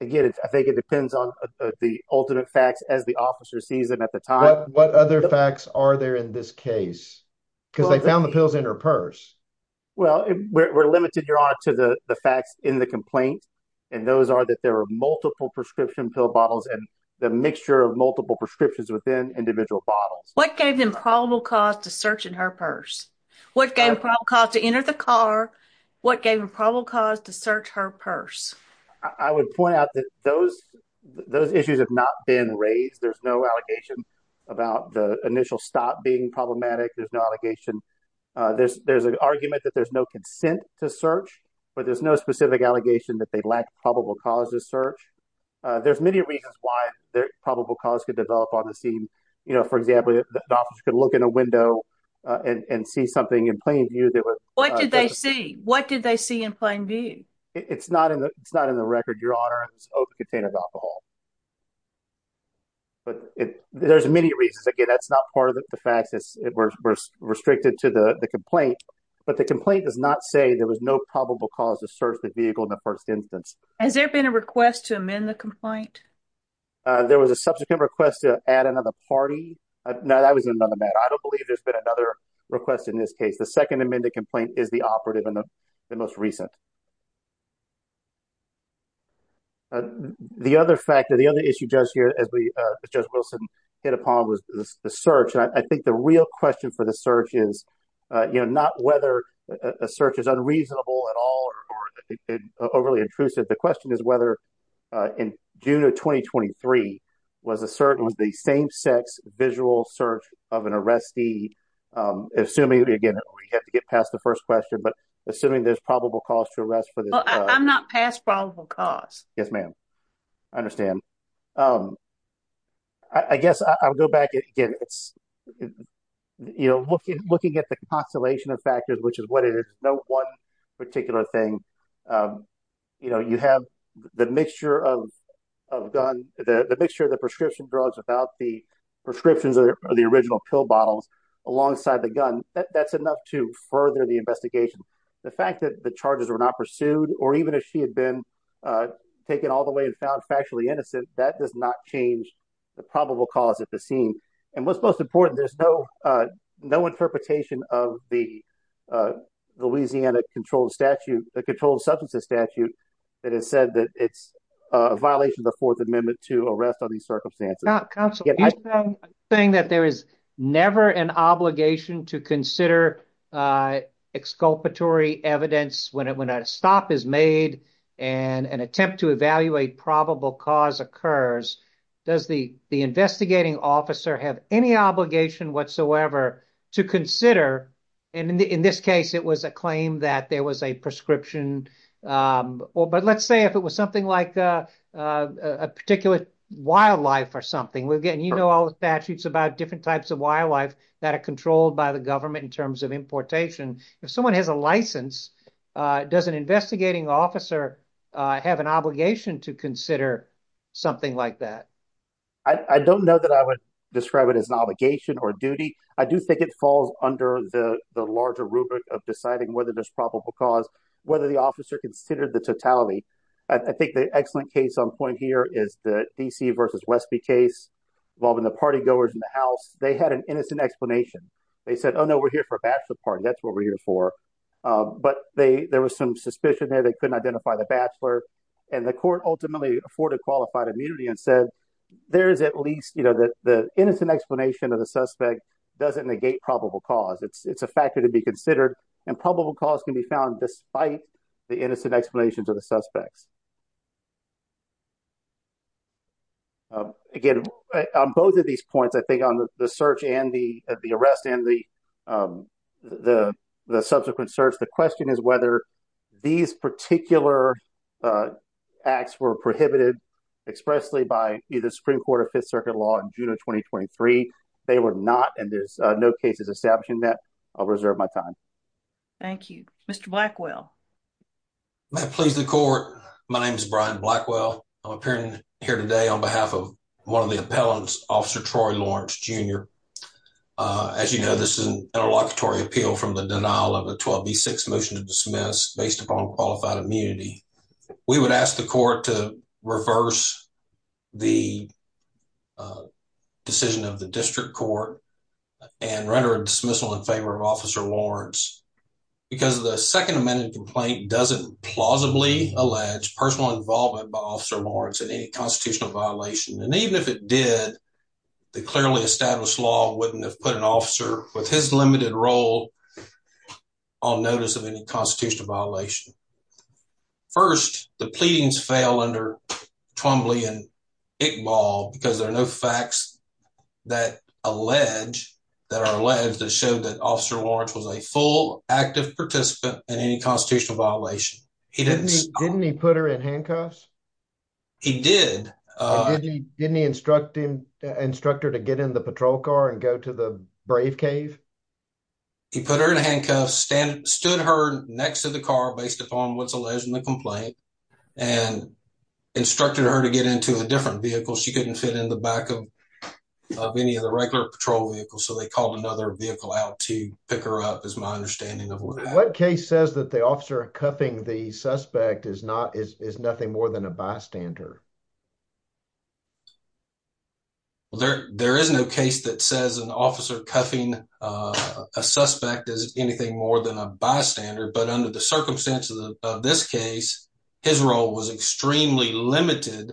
Again, I think it depends on the alternate facts as the officer sees them at the time. What other facts are there in this case? Because they found the pills in her purse. Well, we're limited, Your Honor, to the facts in the complaint, and those are that there are multiple prescription pill bottles and the mixture of multiple prescriptions within individual bottles. What gave them probable cause to search in her purse? What gave them probable cause to enter the car? What gave them probable cause to search her purse? I would point out that those issues have not been raised. There's no allegation about the initial stop being problematic. There's no allegation. There's an argument that there's no consent to search, but there's no specific allegation that they lack probable cause to search. There's many reasons why probable cause could develop on the scene. You know, for example, the officer could look in a window and see something in plain view that What did they see? What did they see in plain view? It's not in the record, Your Honor. It's open container of alcohol. But there's many reasons. Again, that's not part of the facts. We're restricted to the complaint, but the complaint does not say there was no probable cause to search the vehicle in the first instance. Has there been a request to amend the complaint? There was a subsequent request to add another party. Now, that was another matter. I don't is the operative and the most recent. The other factor, the other issue, Judge Wilson, hit upon was the search. I think the real question for the search is not whether a search is unreasonable at all or overly intrusive. The question is whether in June of 2023, was the same-sex visual search of an arrestee, assuming, again, we have to get past the first question, but assuming there's probable cause to arrest for this. Well, I'm not past probable cause. Yes, ma'am. I understand. I guess I'll go back again. It's, you know, looking at the constellation of factors, which is what it is, no one particular thing. You know, you have the mixture of guns, the mixture of the prescription drugs without the prescriptions of the original pill bottles alongside the gun. That's enough to further the investigation. The fact that the charges were not pursued or even if she had been taken all the way and found factually innocent, that does not change the probable cause at the scene. And what's most important, there's no interpretation of the Louisiana controlled statute, the controlled substances statute that has said that it's a violation of the Fourth Amendment to arrest under these circumstances. Counselor, are you saying that there is never an obligation to consider exculpatory evidence when a stop is made and an attempt to evaluate probable cause occurs? Does the investigating officer have any obligation whatsoever to consider? And in this case, it was a claim that there was a prescription. But let's say if it was something like a particular wildlife or something, we're getting, you know, all the statutes about different types of wildlife that are controlled by the government in terms of importation. If someone has a license, does an investigating officer have an obligation to consider something like that? I don't know that I would describe it as an obligation or duty. I do think it falls under the larger rubric of deciding whether there's probable cause, whether the officer considered the totality. I think the excellent case on point here is the D.C. versus Westby case involving the partygoers in the house. They had an innocent explanation. They said, oh, no, we're here for a bachelor party. That's what we're here for. But there was some suspicion there they couldn't identify the bachelor. And the court ultimately afforded qualified immunity and said, there is at least, you know, the innocent explanation of the suspect doesn't negate probable cause. It's a factor to be considered. And probable cause can be found despite the innocent explanations of the suspects. Again, on both of these points, I think on the search and the arrest and the subsequent search, the question is whether these particular acts were prohibited expressly by either Supreme Court or Fifth Circuit law in June of 2023. They were not. And there's no cases establishing that. I'll reserve my time. Thank you, Mr. Blackwell. May it please the court. My name is Brian Blackwell. I'm appearing here today on behalf of one of the appellants, Officer Troy Lawrence, Jr. As you know, this is an interlocutory appeal from the denial of a 12 v. 6 motion to dismiss based upon qualified immunity. We would ask the court to reverse the decision of the district court and render a dismissal in favor of Officer Lawrence because the Second Amendment complaint doesn't plausibly allege personal involvement by Officer Lawrence in any constitutional violation. And even if it did, the clearly established law wouldn't have put an officer with his limited role on notice of any constitutional violation. First, the pleadings fail under Twombly and Iqbal because there are no facts that allege that showed that Officer Lawrence was a full active participant in any constitutional violation. Didn't he put her in handcuffs? He did. Didn't he instruct him, instruct her to get in the patrol car and go to the brave cave? He put her in handcuffs, stood her next to the car based upon what's alleged in the complaint and instructed her to get into a different vehicle. She couldn't fit in the back of any of the regular patrol vehicles, so they called another vehicle out to pick her up is my understanding of what happened. What case says that the officer cuffing the suspect is nothing more than a bystander? Well, there is no case that says an officer cuffing a suspect is anything more than a bystander, but under the circumstances of this case, his role was extremely limited.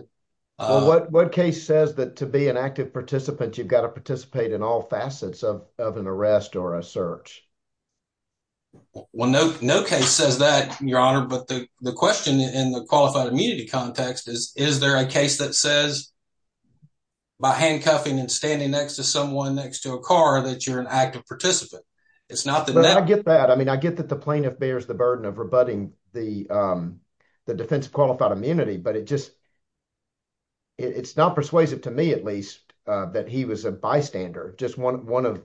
Well, what case says that to be an active participant, you've got to participate in all facets of an arrest or a search? Well, no case says that, Your Honor, but the question in the qualified immunity context is, is there a case that says by handcuffing and standing next to someone next to a car that you're an active participant? I get that. I mean, I get that the plaintiff bears the burden of rebutting the defensive qualified immunity, but it's not persuasive to me, at least, that he was a bystander. Just one of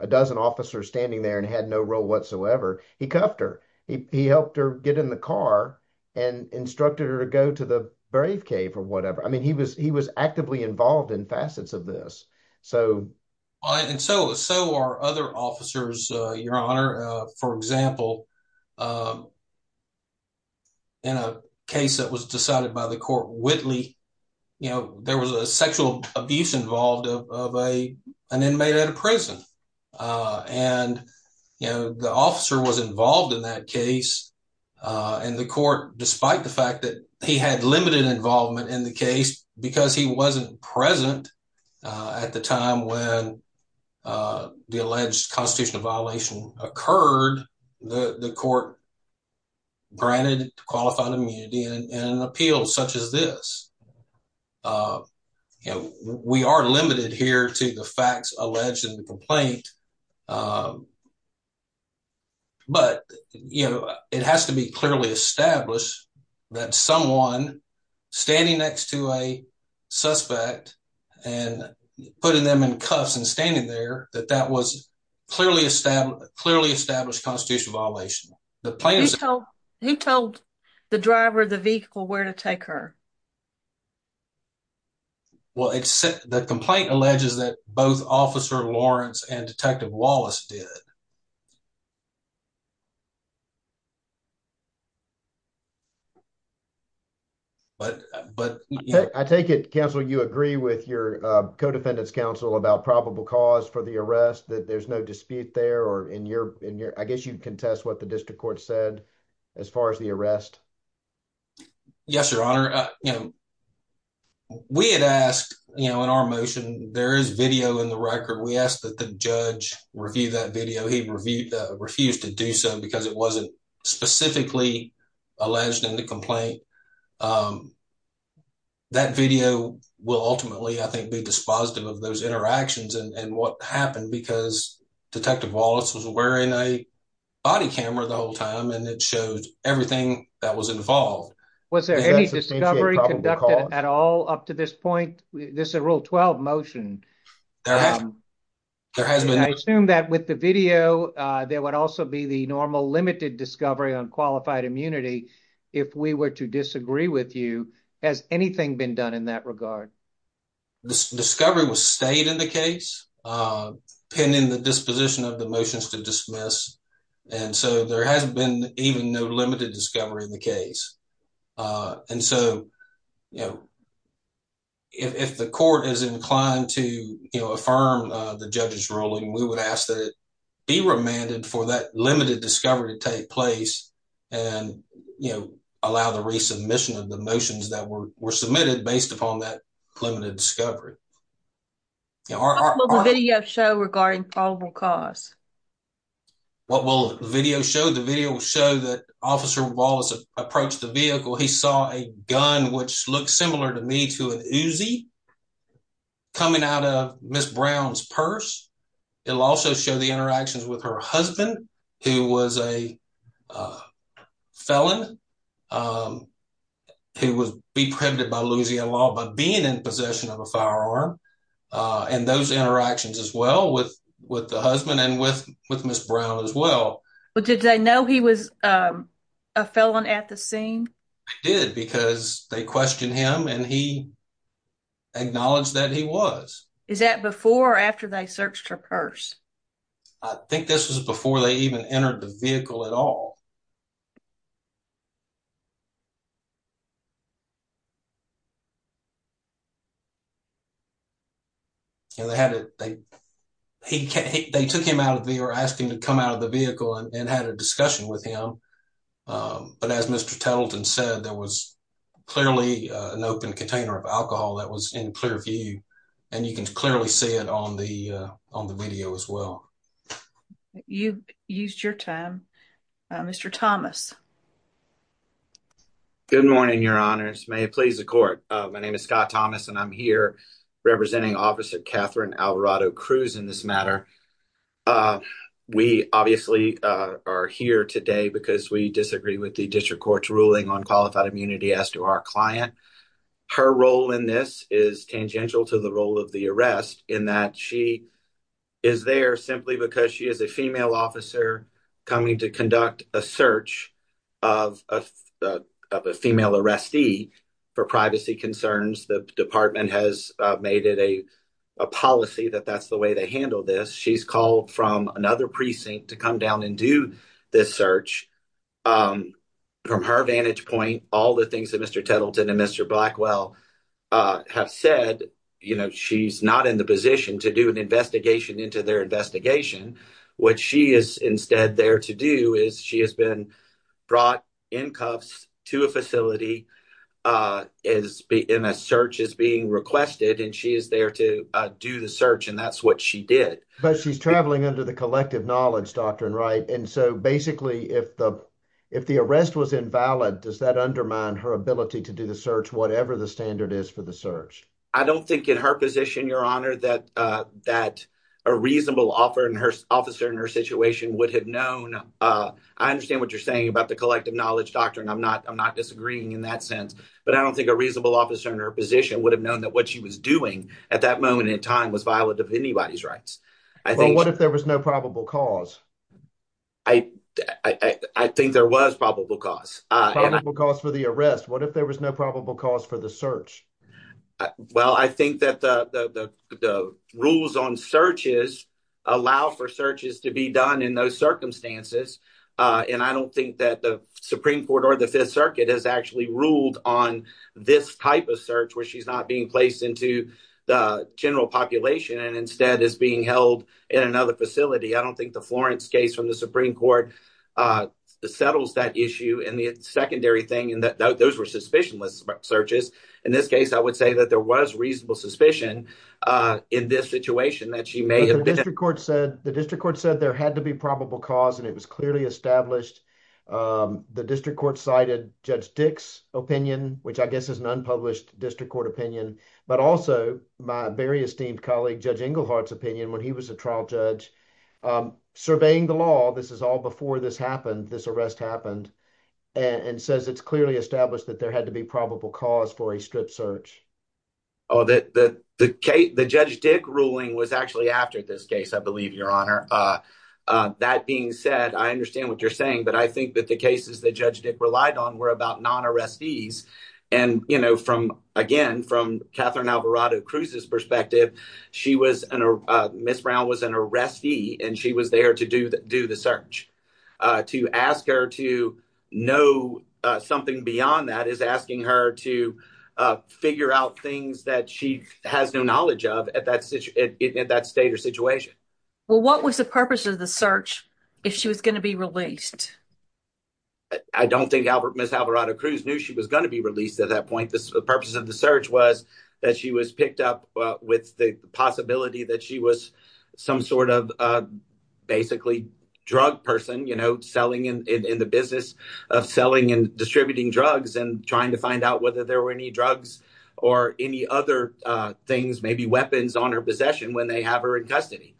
a dozen officers standing there and had no role whatsoever, he cuffed her. He helped her get in the car and instructed her to go to the brave cave or whatever. I mean, he was actively involved in facets of this. So are other officers, Your Honor. For example, in a case that was decided by the court, Whitley, there was a sexual abuse involved of an inmate at a prison. The officer was involved in that case and the court, despite the fact that he had limited involvement in the case, because he wasn't present at the time when the alleged constitutional violation occurred, the court granted qualified immunity in an appeal such as this. You know, we are limited here to the facts alleged in the complaint, but, you know, it has to be clearly established that someone standing next to a suspect and putting them in cuffs and standing there, that that was clearly established constitutional violation. Who told the driver of the vehicle where to take her? Well, except the complaint alleges that both Officer Lawrence and Detective Wallace did. But, but I take it, Counselor, you agree with your co-defendants counsel about probable cause for the arrest, that there's no dispute there or in your, in your, I guess you'd contest what the district court said as far as the arrest. Yes, Your Honor. You know, we had asked, you know, in our motion, there is video in the record. We asked that the judge review that video. He refused to do so because it wasn't specifically alleged in the complaint. That video will ultimately, I think, be dispositive of those interactions and what happened because Detective Wallace was wearing a body camera the whole time and it shows everything that was involved. Was there any discovery conducted at all up to this point? This is a Rule 12 motion. There has been. I assume that with the video, there would also be the normal limited discovery on qualified immunity. If we were to disagree with you, has anything been done in that regard? Discovery was stayed in the case, pending the disposition of the motions to dismiss. And so there hasn't been even no limited discovery in the case. And so, you know, if the court is inclined to affirm the judge's ruling, we would ask that it be remanded for that limited discovery to take place and, you know, allow the resubmission of the motions that were submitted based upon that limited discovery. What will the video show regarding probable cause? What will the video show? The video will show that Officer Wallace approached the vehicle. He saw a gun, which looks similar to me, to an Uzi coming out of Ms. Brown's purse. It'll also show the interactions with her husband, who was a felon, who was be prohibited by Louisiana law by being in possession of a firearm. And those interactions as well with the husband and with Ms. Brown as well. But did they know he was a felon at the scene? They did because they questioned him and he acknowledged that he was. Is that before or after they searched her purse? I think this was before they even entered the vehicle at all. You know, they took him out of the or asked him to come out of the vehicle and had a discussion with him. But as Mr. Tettleton said, there was clearly an open container of alcohol that was in clear view and you can clearly see it on the video as well. You've used your time. Mr. Thomas. Good morning, Your Honors. May it please the court. My name is Scott Thomas and I'm here representing Officer Catherine Alvarado-Cruz in this matter. We obviously are here today because we disagree with the district court's ruling on qualified immunity as to our client. Her role in this is tangential to the role of the arrest in that she is there simply because she is a female officer coming to conduct a search of a female arrestee for privacy concerns. The department has made it a policy that that's the way they handle this. She's called from another precinct to come down and do this search. From her vantage point, all the things that Mr. Tettleton and Mr. Blackwell have said, you know, she's not in the position to do an investigation into their investigation. What she is instead there to do is she has been brought in cuffs to a facility and a search is being requested and she is there to do the search and that's what she did. But she's traveling under the collective knowledge doctrine, right? And so basically, if the arrest was invalid, does that undermine her ability to do the search whatever the standard is for the search? I don't think in her position, Your Honor, that a reasonable officer in her situation would have I understand what you're saying about the collective knowledge doctrine. I'm not disagreeing in that sense, but I don't think a reasonable officer in her position would have known that what she was doing at that moment in time was violent of anybody's rights. Well, what if there was no probable cause? I think there was probable cause. Probable cause for the arrest. What if there was no probable cause for the search? Well, I think that the rules on searches allow for searches to be done in those circumstances. And I don't think that the Supreme Court or the Fifth Circuit has actually ruled on this type of search where she's not being placed into the general population and instead is being held in another facility. I don't think the Florence case from the Supreme Court settles that issue. And the secondary thing in that those were suspicionless searches. In this case, I would say that there was reasonable suspicion in this situation that she may have been. The district court said there had to be probable cause and it was clearly established. The district court cited Judge Dick's opinion, which I guess is an unpublished district court opinion, but also my very esteemed colleague, Judge Englehart's opinion when he was a trial judge surveying the law. This is all before this happened. This arrest happened and says it's clearly established that there had to be probable cause for a strip search. Oh, the Judge Dick ruling was actually after this case, I believe, Your Honor. That being said, I understand what you're saying, but I think that the cases that Judge Dick relied on were about non-arrestees. And again, from Catherine Alvarado Cruz's perspective, she was an arrestee and she was there to do the search. To ask her to know something beyond that is asking her to figure out things that she has no knowledge of at that state or situation. Well, what was the purpose of the search if she was going to be released? I don't think Ms. Alvarado Cruz knew she was going to be released at that point. The purpose of the search was that she was picked up with the possibility that she was some sort of basically drug person, you know, selling in the business of selling and distributing drugs and trying to find out whether there were any drugs or any other things, maybe weapons on her possession when they have her in custody.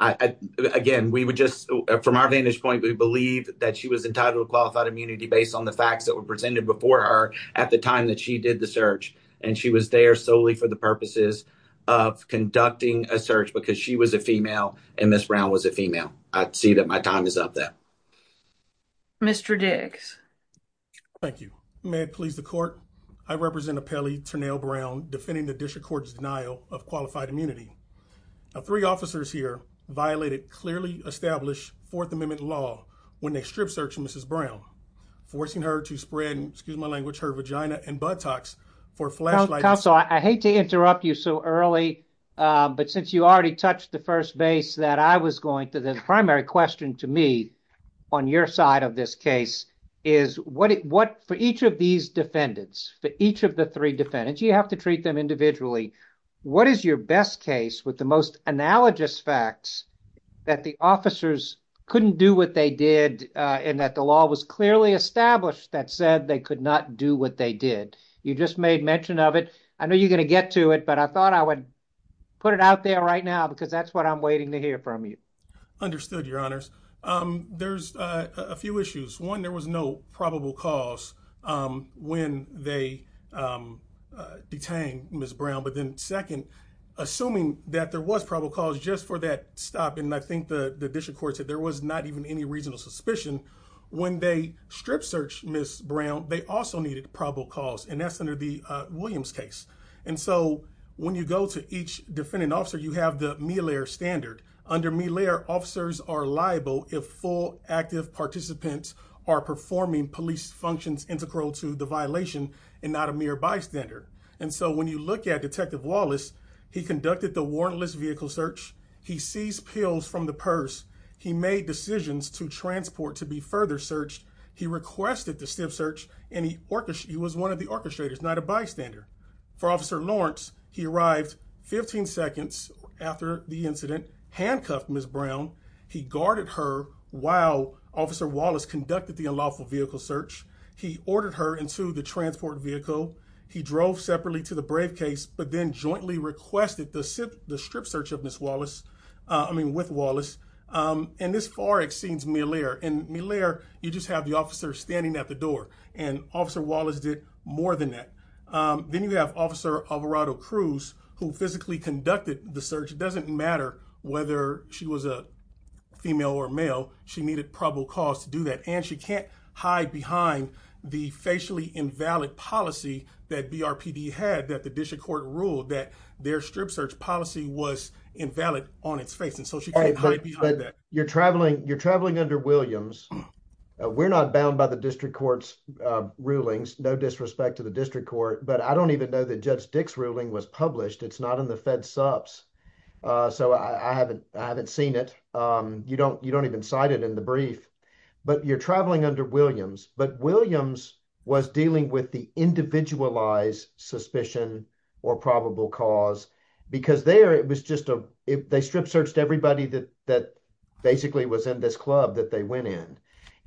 Again, from our vantage point, we believe that she was entitled to at the time that she did the search and she was there solely for the purposes of conducting a search because she was a female and Ms. Brown was a female. I see that my time is up there. Mr. Diggs. Thank you. May it please the court, I represent Appellee Turnell Brown defending the District Court's denial of qualified immunity. Three officers here violated clearly established Fourth Amendment law when they strip searched Mrs. Brown, forcing her to spread, excuse my language, her vagina and buttocks for flashlights. Counsel, I hate to interrupt you so early, but since you already touched the first base that I was going to, the primary question to me on your side of this case is what for each of these defendants, for each of the three defendants, you have to treat them individually, what is your best case with the most analogous facts that the officers couldn't do what they did and that the law was clearly established that said they could not do what they did? You just made mention of it. I know you're going to get to it, but I thought I would put it out there right now because that's what I'm waiting to hear from you. Understood, your honors. There's a few issues. One, there was no probable cause when they detained Ms. Brown. But then second, assuming that there was probable cause just for that stop, and I think the District Court said there was not even any reasonable suspicion, when they strip searched Ms. Brown, they also needed probable cause, and that's under the Williams case. And so when you go to each defendant officer, you have the standard. Under Milaire, officers are liable if full active participants are performing police functions integral to the violation and not a mere bystander. And so when you look at Detective Wallace, he conducted the warrantless vehicle search, he seized pills from the purse, he made decisions to transport to be further searched, he requested the stiff search, and he was one of the incident, handcuffed Ms. Brown, he guarded her while Officer Wallace conducted the unlawful vehicle search, he ordered her into the transport vehicle, he drove separately to the Brave case, but then jointly requested the strip search of Ms. Wallace, I mean with Wallace. And this far exceeds Milaire. In Milaire, you just have the officer standing at the door, and Officer Wallace did more than that. Then you have Officer Alvarado-Cruz, who physically conducted the search, it doesn't matter whether she was a female or male, she needed probable cause to do that, and she can't hide behind the facially invalid policy that BRPD had that the district court ruled that their strip search policy was invalid on its face, and so she can't hide behind that. You're traveling under Williams, we're not bound by the district court's rulings, no disrespect to the district court, but I don't even know that Judge Dick's ruling was published, it's not in the Fed Supps, so I haven't seen it, you don't even cite it in the brief. But you're traveling under Williams, but Williams was dealing with the individualized suspicion or probable cause, because there it was just a, they strip searched everybody that basically was in this club that they went in,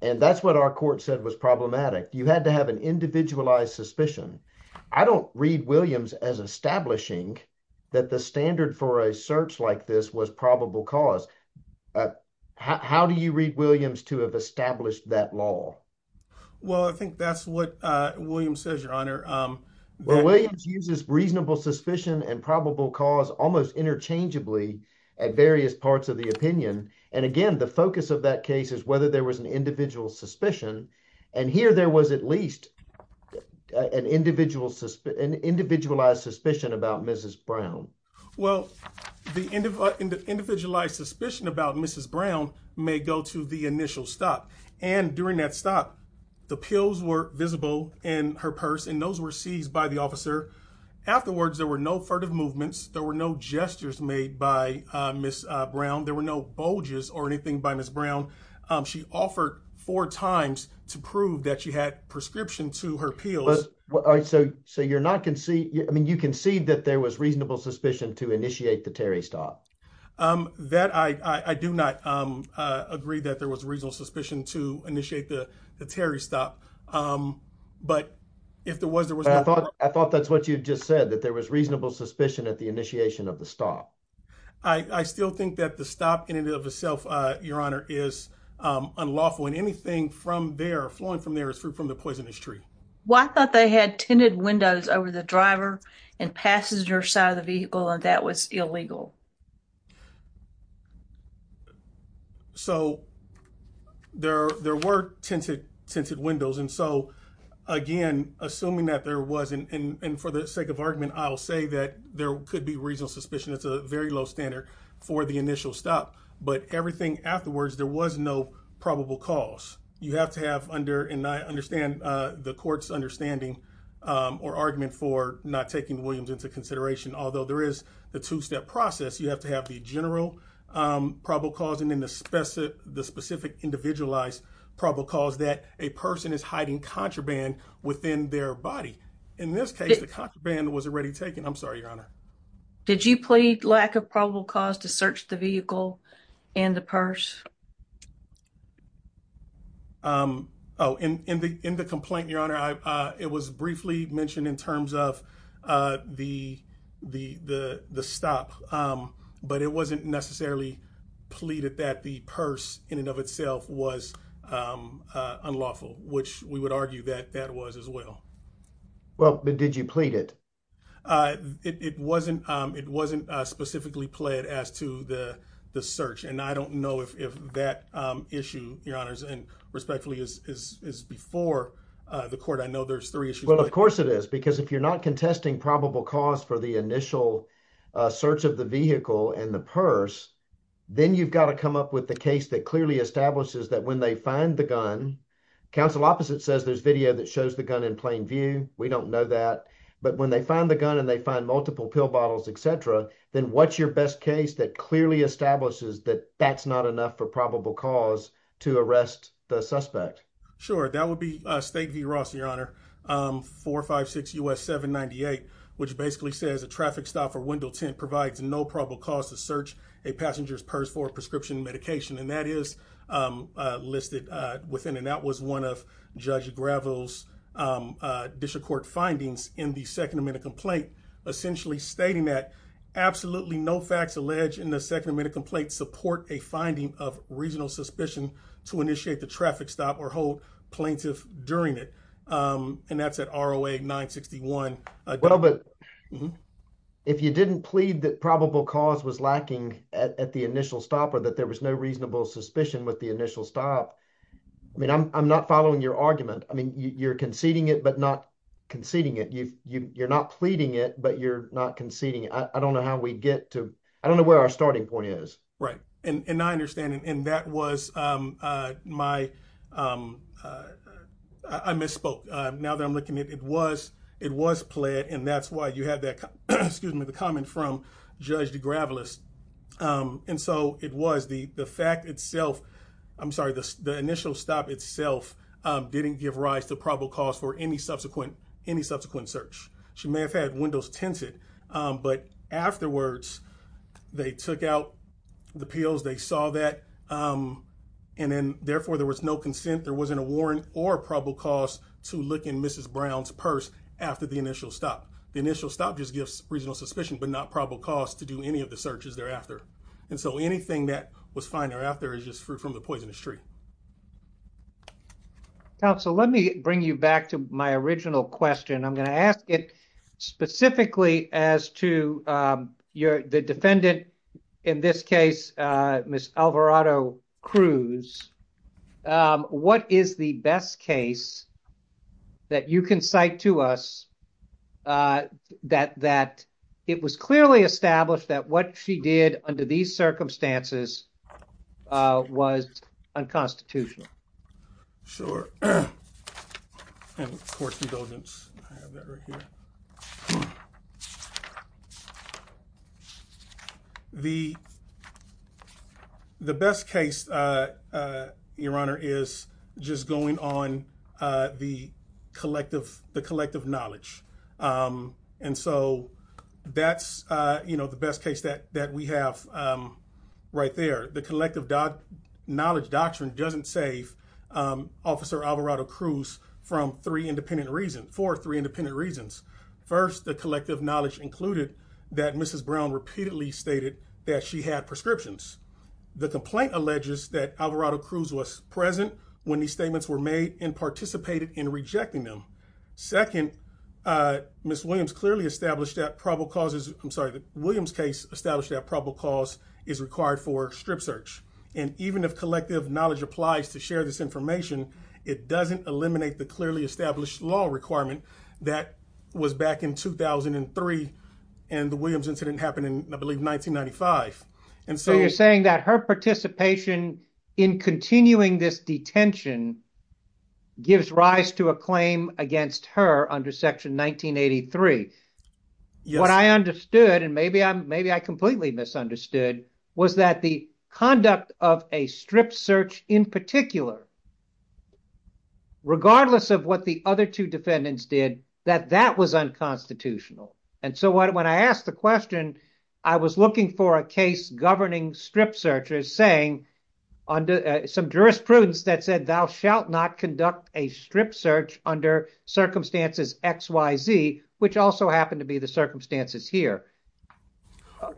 and that's what our court said was problematic. You had to have individualized suspicion. I don't read Williams as establishing that the standard for a search like this was probable cause. How do you read Williams to have established that law? Well, I think that's what Williams says, Your Honor. Well, Williams uses reasonable suspicion and probable cause almost interchangeably at various parts of the opinion, and again, the focus of that case is whether there was individual suspicion, and here there was at least an individualized suspicion about Mrs. Brown. Well, the individualized suspicion about Mrs. Brown may go to the initial stop, and during that stop, the pills were visible in her purse, and those were seized by the officer. Afterwards, there were no furtive movements, there were no gestures made by Mrs. Brown, there were no bulges or anything by Mrs. Brown. She offered four times to prove that she had prescription to her pills. So, you're not conceding, I mean, you concede that there was reasonable suspicion to initiate the Terry stop? That, I do not agree that there was reasonable suspicion to initiate the Terry stop, but if there was, there was... I thought that's what you just said, that there was reasonable suspicion at the stop. I still think that the stop in and of itself, Your Honor, is unlawful, and anything from there, flowing from there, is fruit from the poisonous tree. Well, I thought they had tinted windows over the driver and passenger side of the vehicle, and that was illegal. So, there were tinted windows, and so, again, assuming that there wasn't, and for the sake of argument, I'll say that there could be reasonable suspicion. It's a very low standard for the initial stop, but everything afterwards, there was no probable cause. You have to have under, and I understand the court's understanding or argument for not taking Williams into consideration, although there is the two-step process. You have to have the general probable cause, and then the specific individualized probable cause that a person is hiding contraband within their body. In this case, the contraband was already taken. I'm sorry, Your Honor. Did you plead lack of probable cause to search the vehicle and the purse? Oh, in the complaint, Your Honor, it was briefly mentioned in terms of the stop, but it wasn't necessarily pleaded that the purse in and of itself was unlawful, which we would argue that that was as well. Well, but did you plead it? It wasn't specifically pled as to the search, and I don't know if that issue, Your Honors, and respectfully, is before the court. I know there's three issues. Well, of course it is, because if you're not contesting probable cause for the initial search of the vehicle and the purse, then you've got to come up with the case that clearly establishes that when they find the gun... Counsel opposite says there's video that shows the gun in plain view. We don't know that, but when they find the gun and they find multiple pill bottles, et cetera, then what's your best case that clearly establishes that that's not enough for probable cause to arrest the suspect? Sure. That would be State v. Ross, Your Honor, 456 U.S. 798, which basically says, a traffic stop or window tint provides no probable cause to search a passenger's purse for a prescription medication. That is listed within, and that was one of Judge Gravo's district court findings in the Second Amendment complaint, essentially stating that absolutely no facts alleged in the Second Amendment complaint support a finding of regional suspicion to initiate the traffic stop or hold plaintiff during it. That's at ROA 961. Well, but if you didn't plead that probable cause was lacking at the initial stop or that there was no reasonable suspicion with the initial stop, I mean, I'm not following your argument. I mean, you're conceding it, but not conceding it. You're not pleading it, but you're not conceding it. I don't know how we'd get to... I don't know where our starting point is. Right. And I understand, and that was my... I misspoke. Now that I'm looking at it, it was plead, and that's why you had that, excuse me, the comment from Judge DeGravelis. And so it was the fact itself, I'm sorry, the initial stop itself didn't give rise to probable cause for any subsequent search. She may have had windows tinted, but afterwards they took out the pills, they saw that, and then therefore there was no consent, there wasn't a warrant or probable cause to look in Mrs. Brown's purse after the initial stop. The initial stop just gives reasonable suspicion, but not probable cause to do any of the searches thereafter. And so anything that was found thereafter is just fruit from the poisonous tree. Counsel, let me bring you back to my original question. I'm going to ask it specifically as to the defendant, in this case, Ms. Alvarado-Cruz. What is the best case that you can cite to us that it was clearly established that what she did under these circumstances was unconstitutional? Sure. And of course, indulgence, I have that right here. The best case, Your Honor, is just going on the collective knowledge. And so that's the best case that we have right there. The collective knowledge doctrine doesn't save Officer Alvarado-Cruz for three independent reasons. First, the collective knowledge included that Mrs. Brown repeatedly stated that she had prescriptions. The complaint alleges that Alvarado-Cruz was present when these statements were made and participated in rejecting them. Second, Ms. Williams' case established that probable cause is required for strip search. And even if collective knowledge applies to share this information, it doesn't eliminate the clearly established law requirement that was back in 2003 and the Williams incident happened in, I believe, 1995. And so you're saying that her participation in continuing this detention gives rise to a claim against her under Section 1983. What I understood, and maybe I completely misunderstood, was that the conduct of a strip search in particular, regardless of what the other two defendants did, that that was unconstitutional. And so when I asked the question, I was looking for a case governing strip searches saying under some jurisprudence that said thou shalt not conduct a strip search under circumstances X, Y, Z, which also happened to be the circumstances here.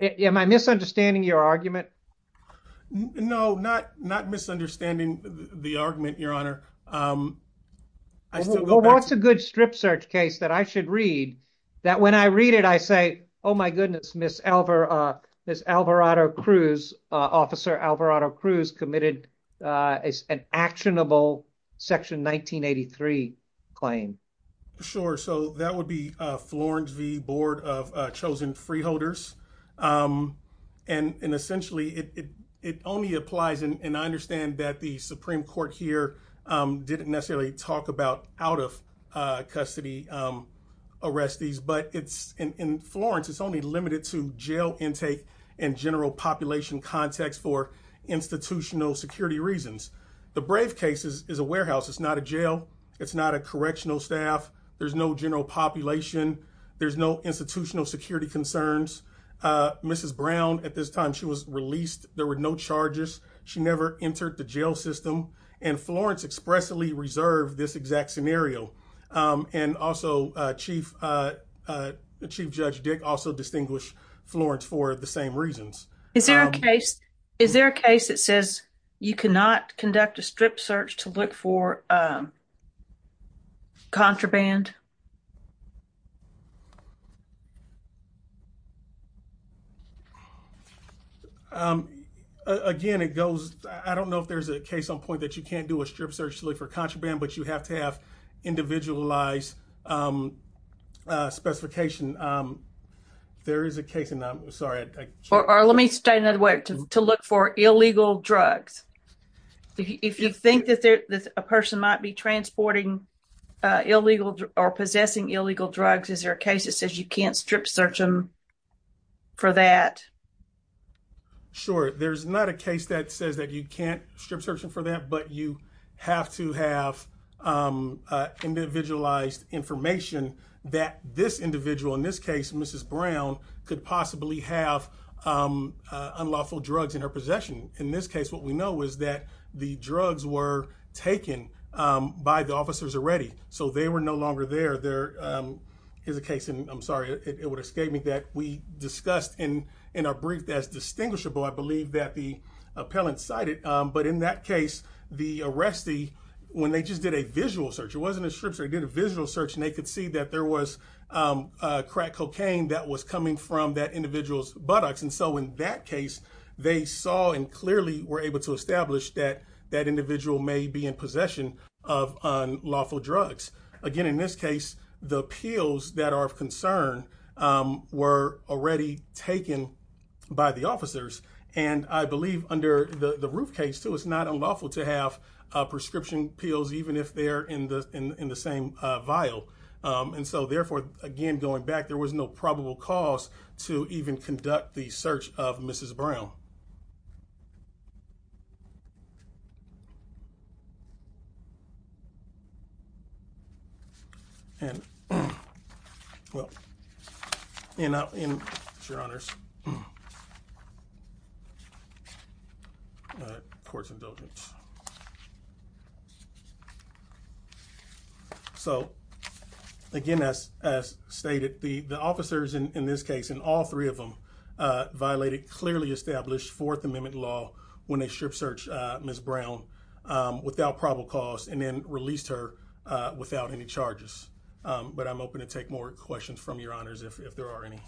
Am I misunderstanding your argument? No, not misunderstanding the argument, Your Honor. I still go back to- Well, what's a good strip search case that I should read that when I read it, I say, oh my goodness, Ms. Alvarado-Cruz, Officer Alvarado-Cruz committed an actionable Section 1983 claim. Sure. So that would be Florence v. Board of Chosen Freeholders. And essentially, it only applies, and I understand that the Supreme Court here didn't necessarily talk about out-of-custody arrestees, but in Florence, it's only limited to jail intake and general population context for institutional security reasons. The Brave case is a warehouse. It's not a jail. It's not a correctional staff. There's no general population. There's no institutional security concerns. Mrs. Brown, at this time, she was released. There were no charges. She never entered the jail system. And Florence expressly reserved this exact scenario. And also Chief Judge Dick also distinguished Florence for the same reasons. Is there a case that says you cannot conduct a strip search to look for contraband? Again, it goes- I don't know if there's a case on point that you can't do a strip search to look for contraband, but you have to have individualized specification. There is a case, and I'm sorry- Or let me state another way, to look for illegal drugs. If you think that a person might be transporting illegal or possessing illegal drugs, is there a case that says you can't strip search them for that? Sure. There's not a case that says that you can't strip search them for that, but you have to have individualized information that this individual, in this case, Mrs. Brown, could possibly have unlawful drugs in her possession. In this case, what we know is that the drugs were taken by the officers already, so they were no longer there. There is a case, and I'm sorry, it would escape me, that we discussed in our brief as distinguishable, I believe that the appellant cited, but in that case, the arrestee, when they just did a visual search, it wasn't a strip search, they did a visual search, and they could see that there was crack cocaine that was coming from that individual's buttocks. In that case, they saw and clearly were able to establish that that individual may be in possession of unlawful drugs. Again, in this case, the pills that are of concern were already taken by the officers, and I believe under the roof case, too, it's not unlawful to have prescription pills, even if they're in the same vial, and so therefore, again, going back, there was no probable cause to even conduct the search of Mrs. Brown. And well, you know, in your honors, courts and buildings. So again, as stated, the officers in this case, in all three of them, violated clearly established Fourth Amendment law when they strip searched Ms. Brown without probable cause and then released her without any charges. But I'm open to take more questions from your honors if there are any.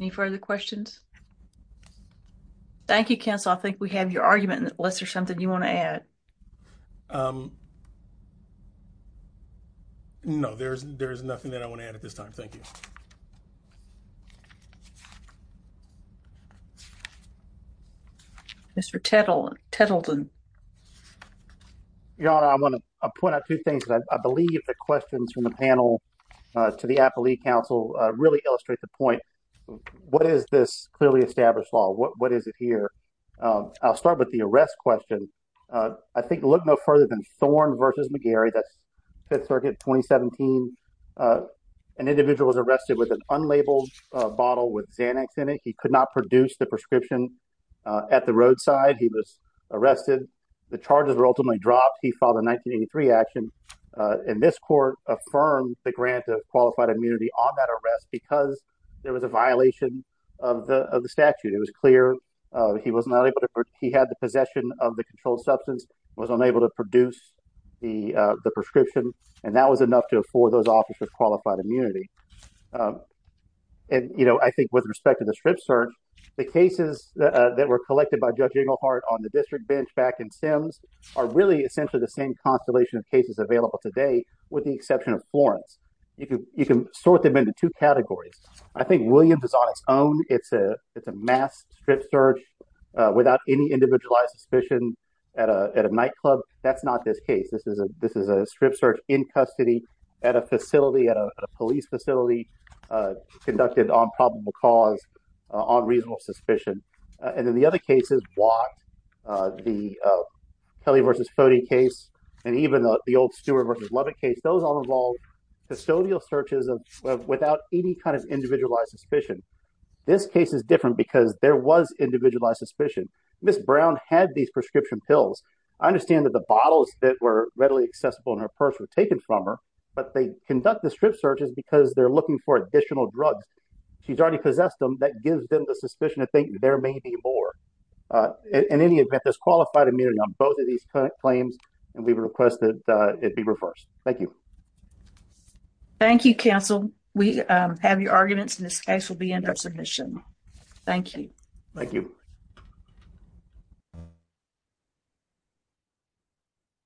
Any further questions? Thank you, counsel. I think we have your argument in the list or something you want to add. Um, no, there's there's nothing that I want to add at this time. Thank you. Mr. Tittle, Tettleton. Your honor, I want to point out two things that I believe the questions from the panel to the appellee council really illustrate the point. What is this clearly established law? What is it here? I'll start with the arrest question. I think look no further than Thorn versus McGarry. That's Fifth Circuit 2017. An individual was arrested with an unlabeled bottle with Xanax in it. He could not produce the prescription at the roadside. He was arrested. The charges were ultimately dropped. He filed a 1983 action. And this court affirmed the grant of qualified immunity on that arrest because there was a violation of the statute. It was clear he was not able to he had the possession of the controlled substance, was unable to produce the prescription, and that was enough to afford those officers qualified immunity. And, you know, I think with respect to the strip search, the cases that were collected by Judge Inglehart on the district bench back in Sims are really essentially the same constellation of cases available today with the exception of Florence. You can sort them into two categories. I think Williams is on its own. It's a it's a mass strip search without any individualized suspicion at a nightclub. That's not this case. This is a this is a strip search in custody at a facility at a police facility conducted on probable cause on reasonable suspicion. And in the other cases, what the Kelly versus Cody case and even the old Stewart versus case, those all involved custodial searches without any kind of individualized suspicion. This case is different because there was individualized suspicion. Miss Brown had these prescription pills. I understand that the bottles that were readily accessible in her purse were taken from her, but they conduct the strip searches because they're looking for additional drugs. She's already possessed them. That gives them the suspicion to think there may be more in any event, this qualified immunity on both of these claims. And we request that it be reversed. Thank you. Thank you, counsel. We have your arguments in this case will be in the submission. Thank you. Thank you.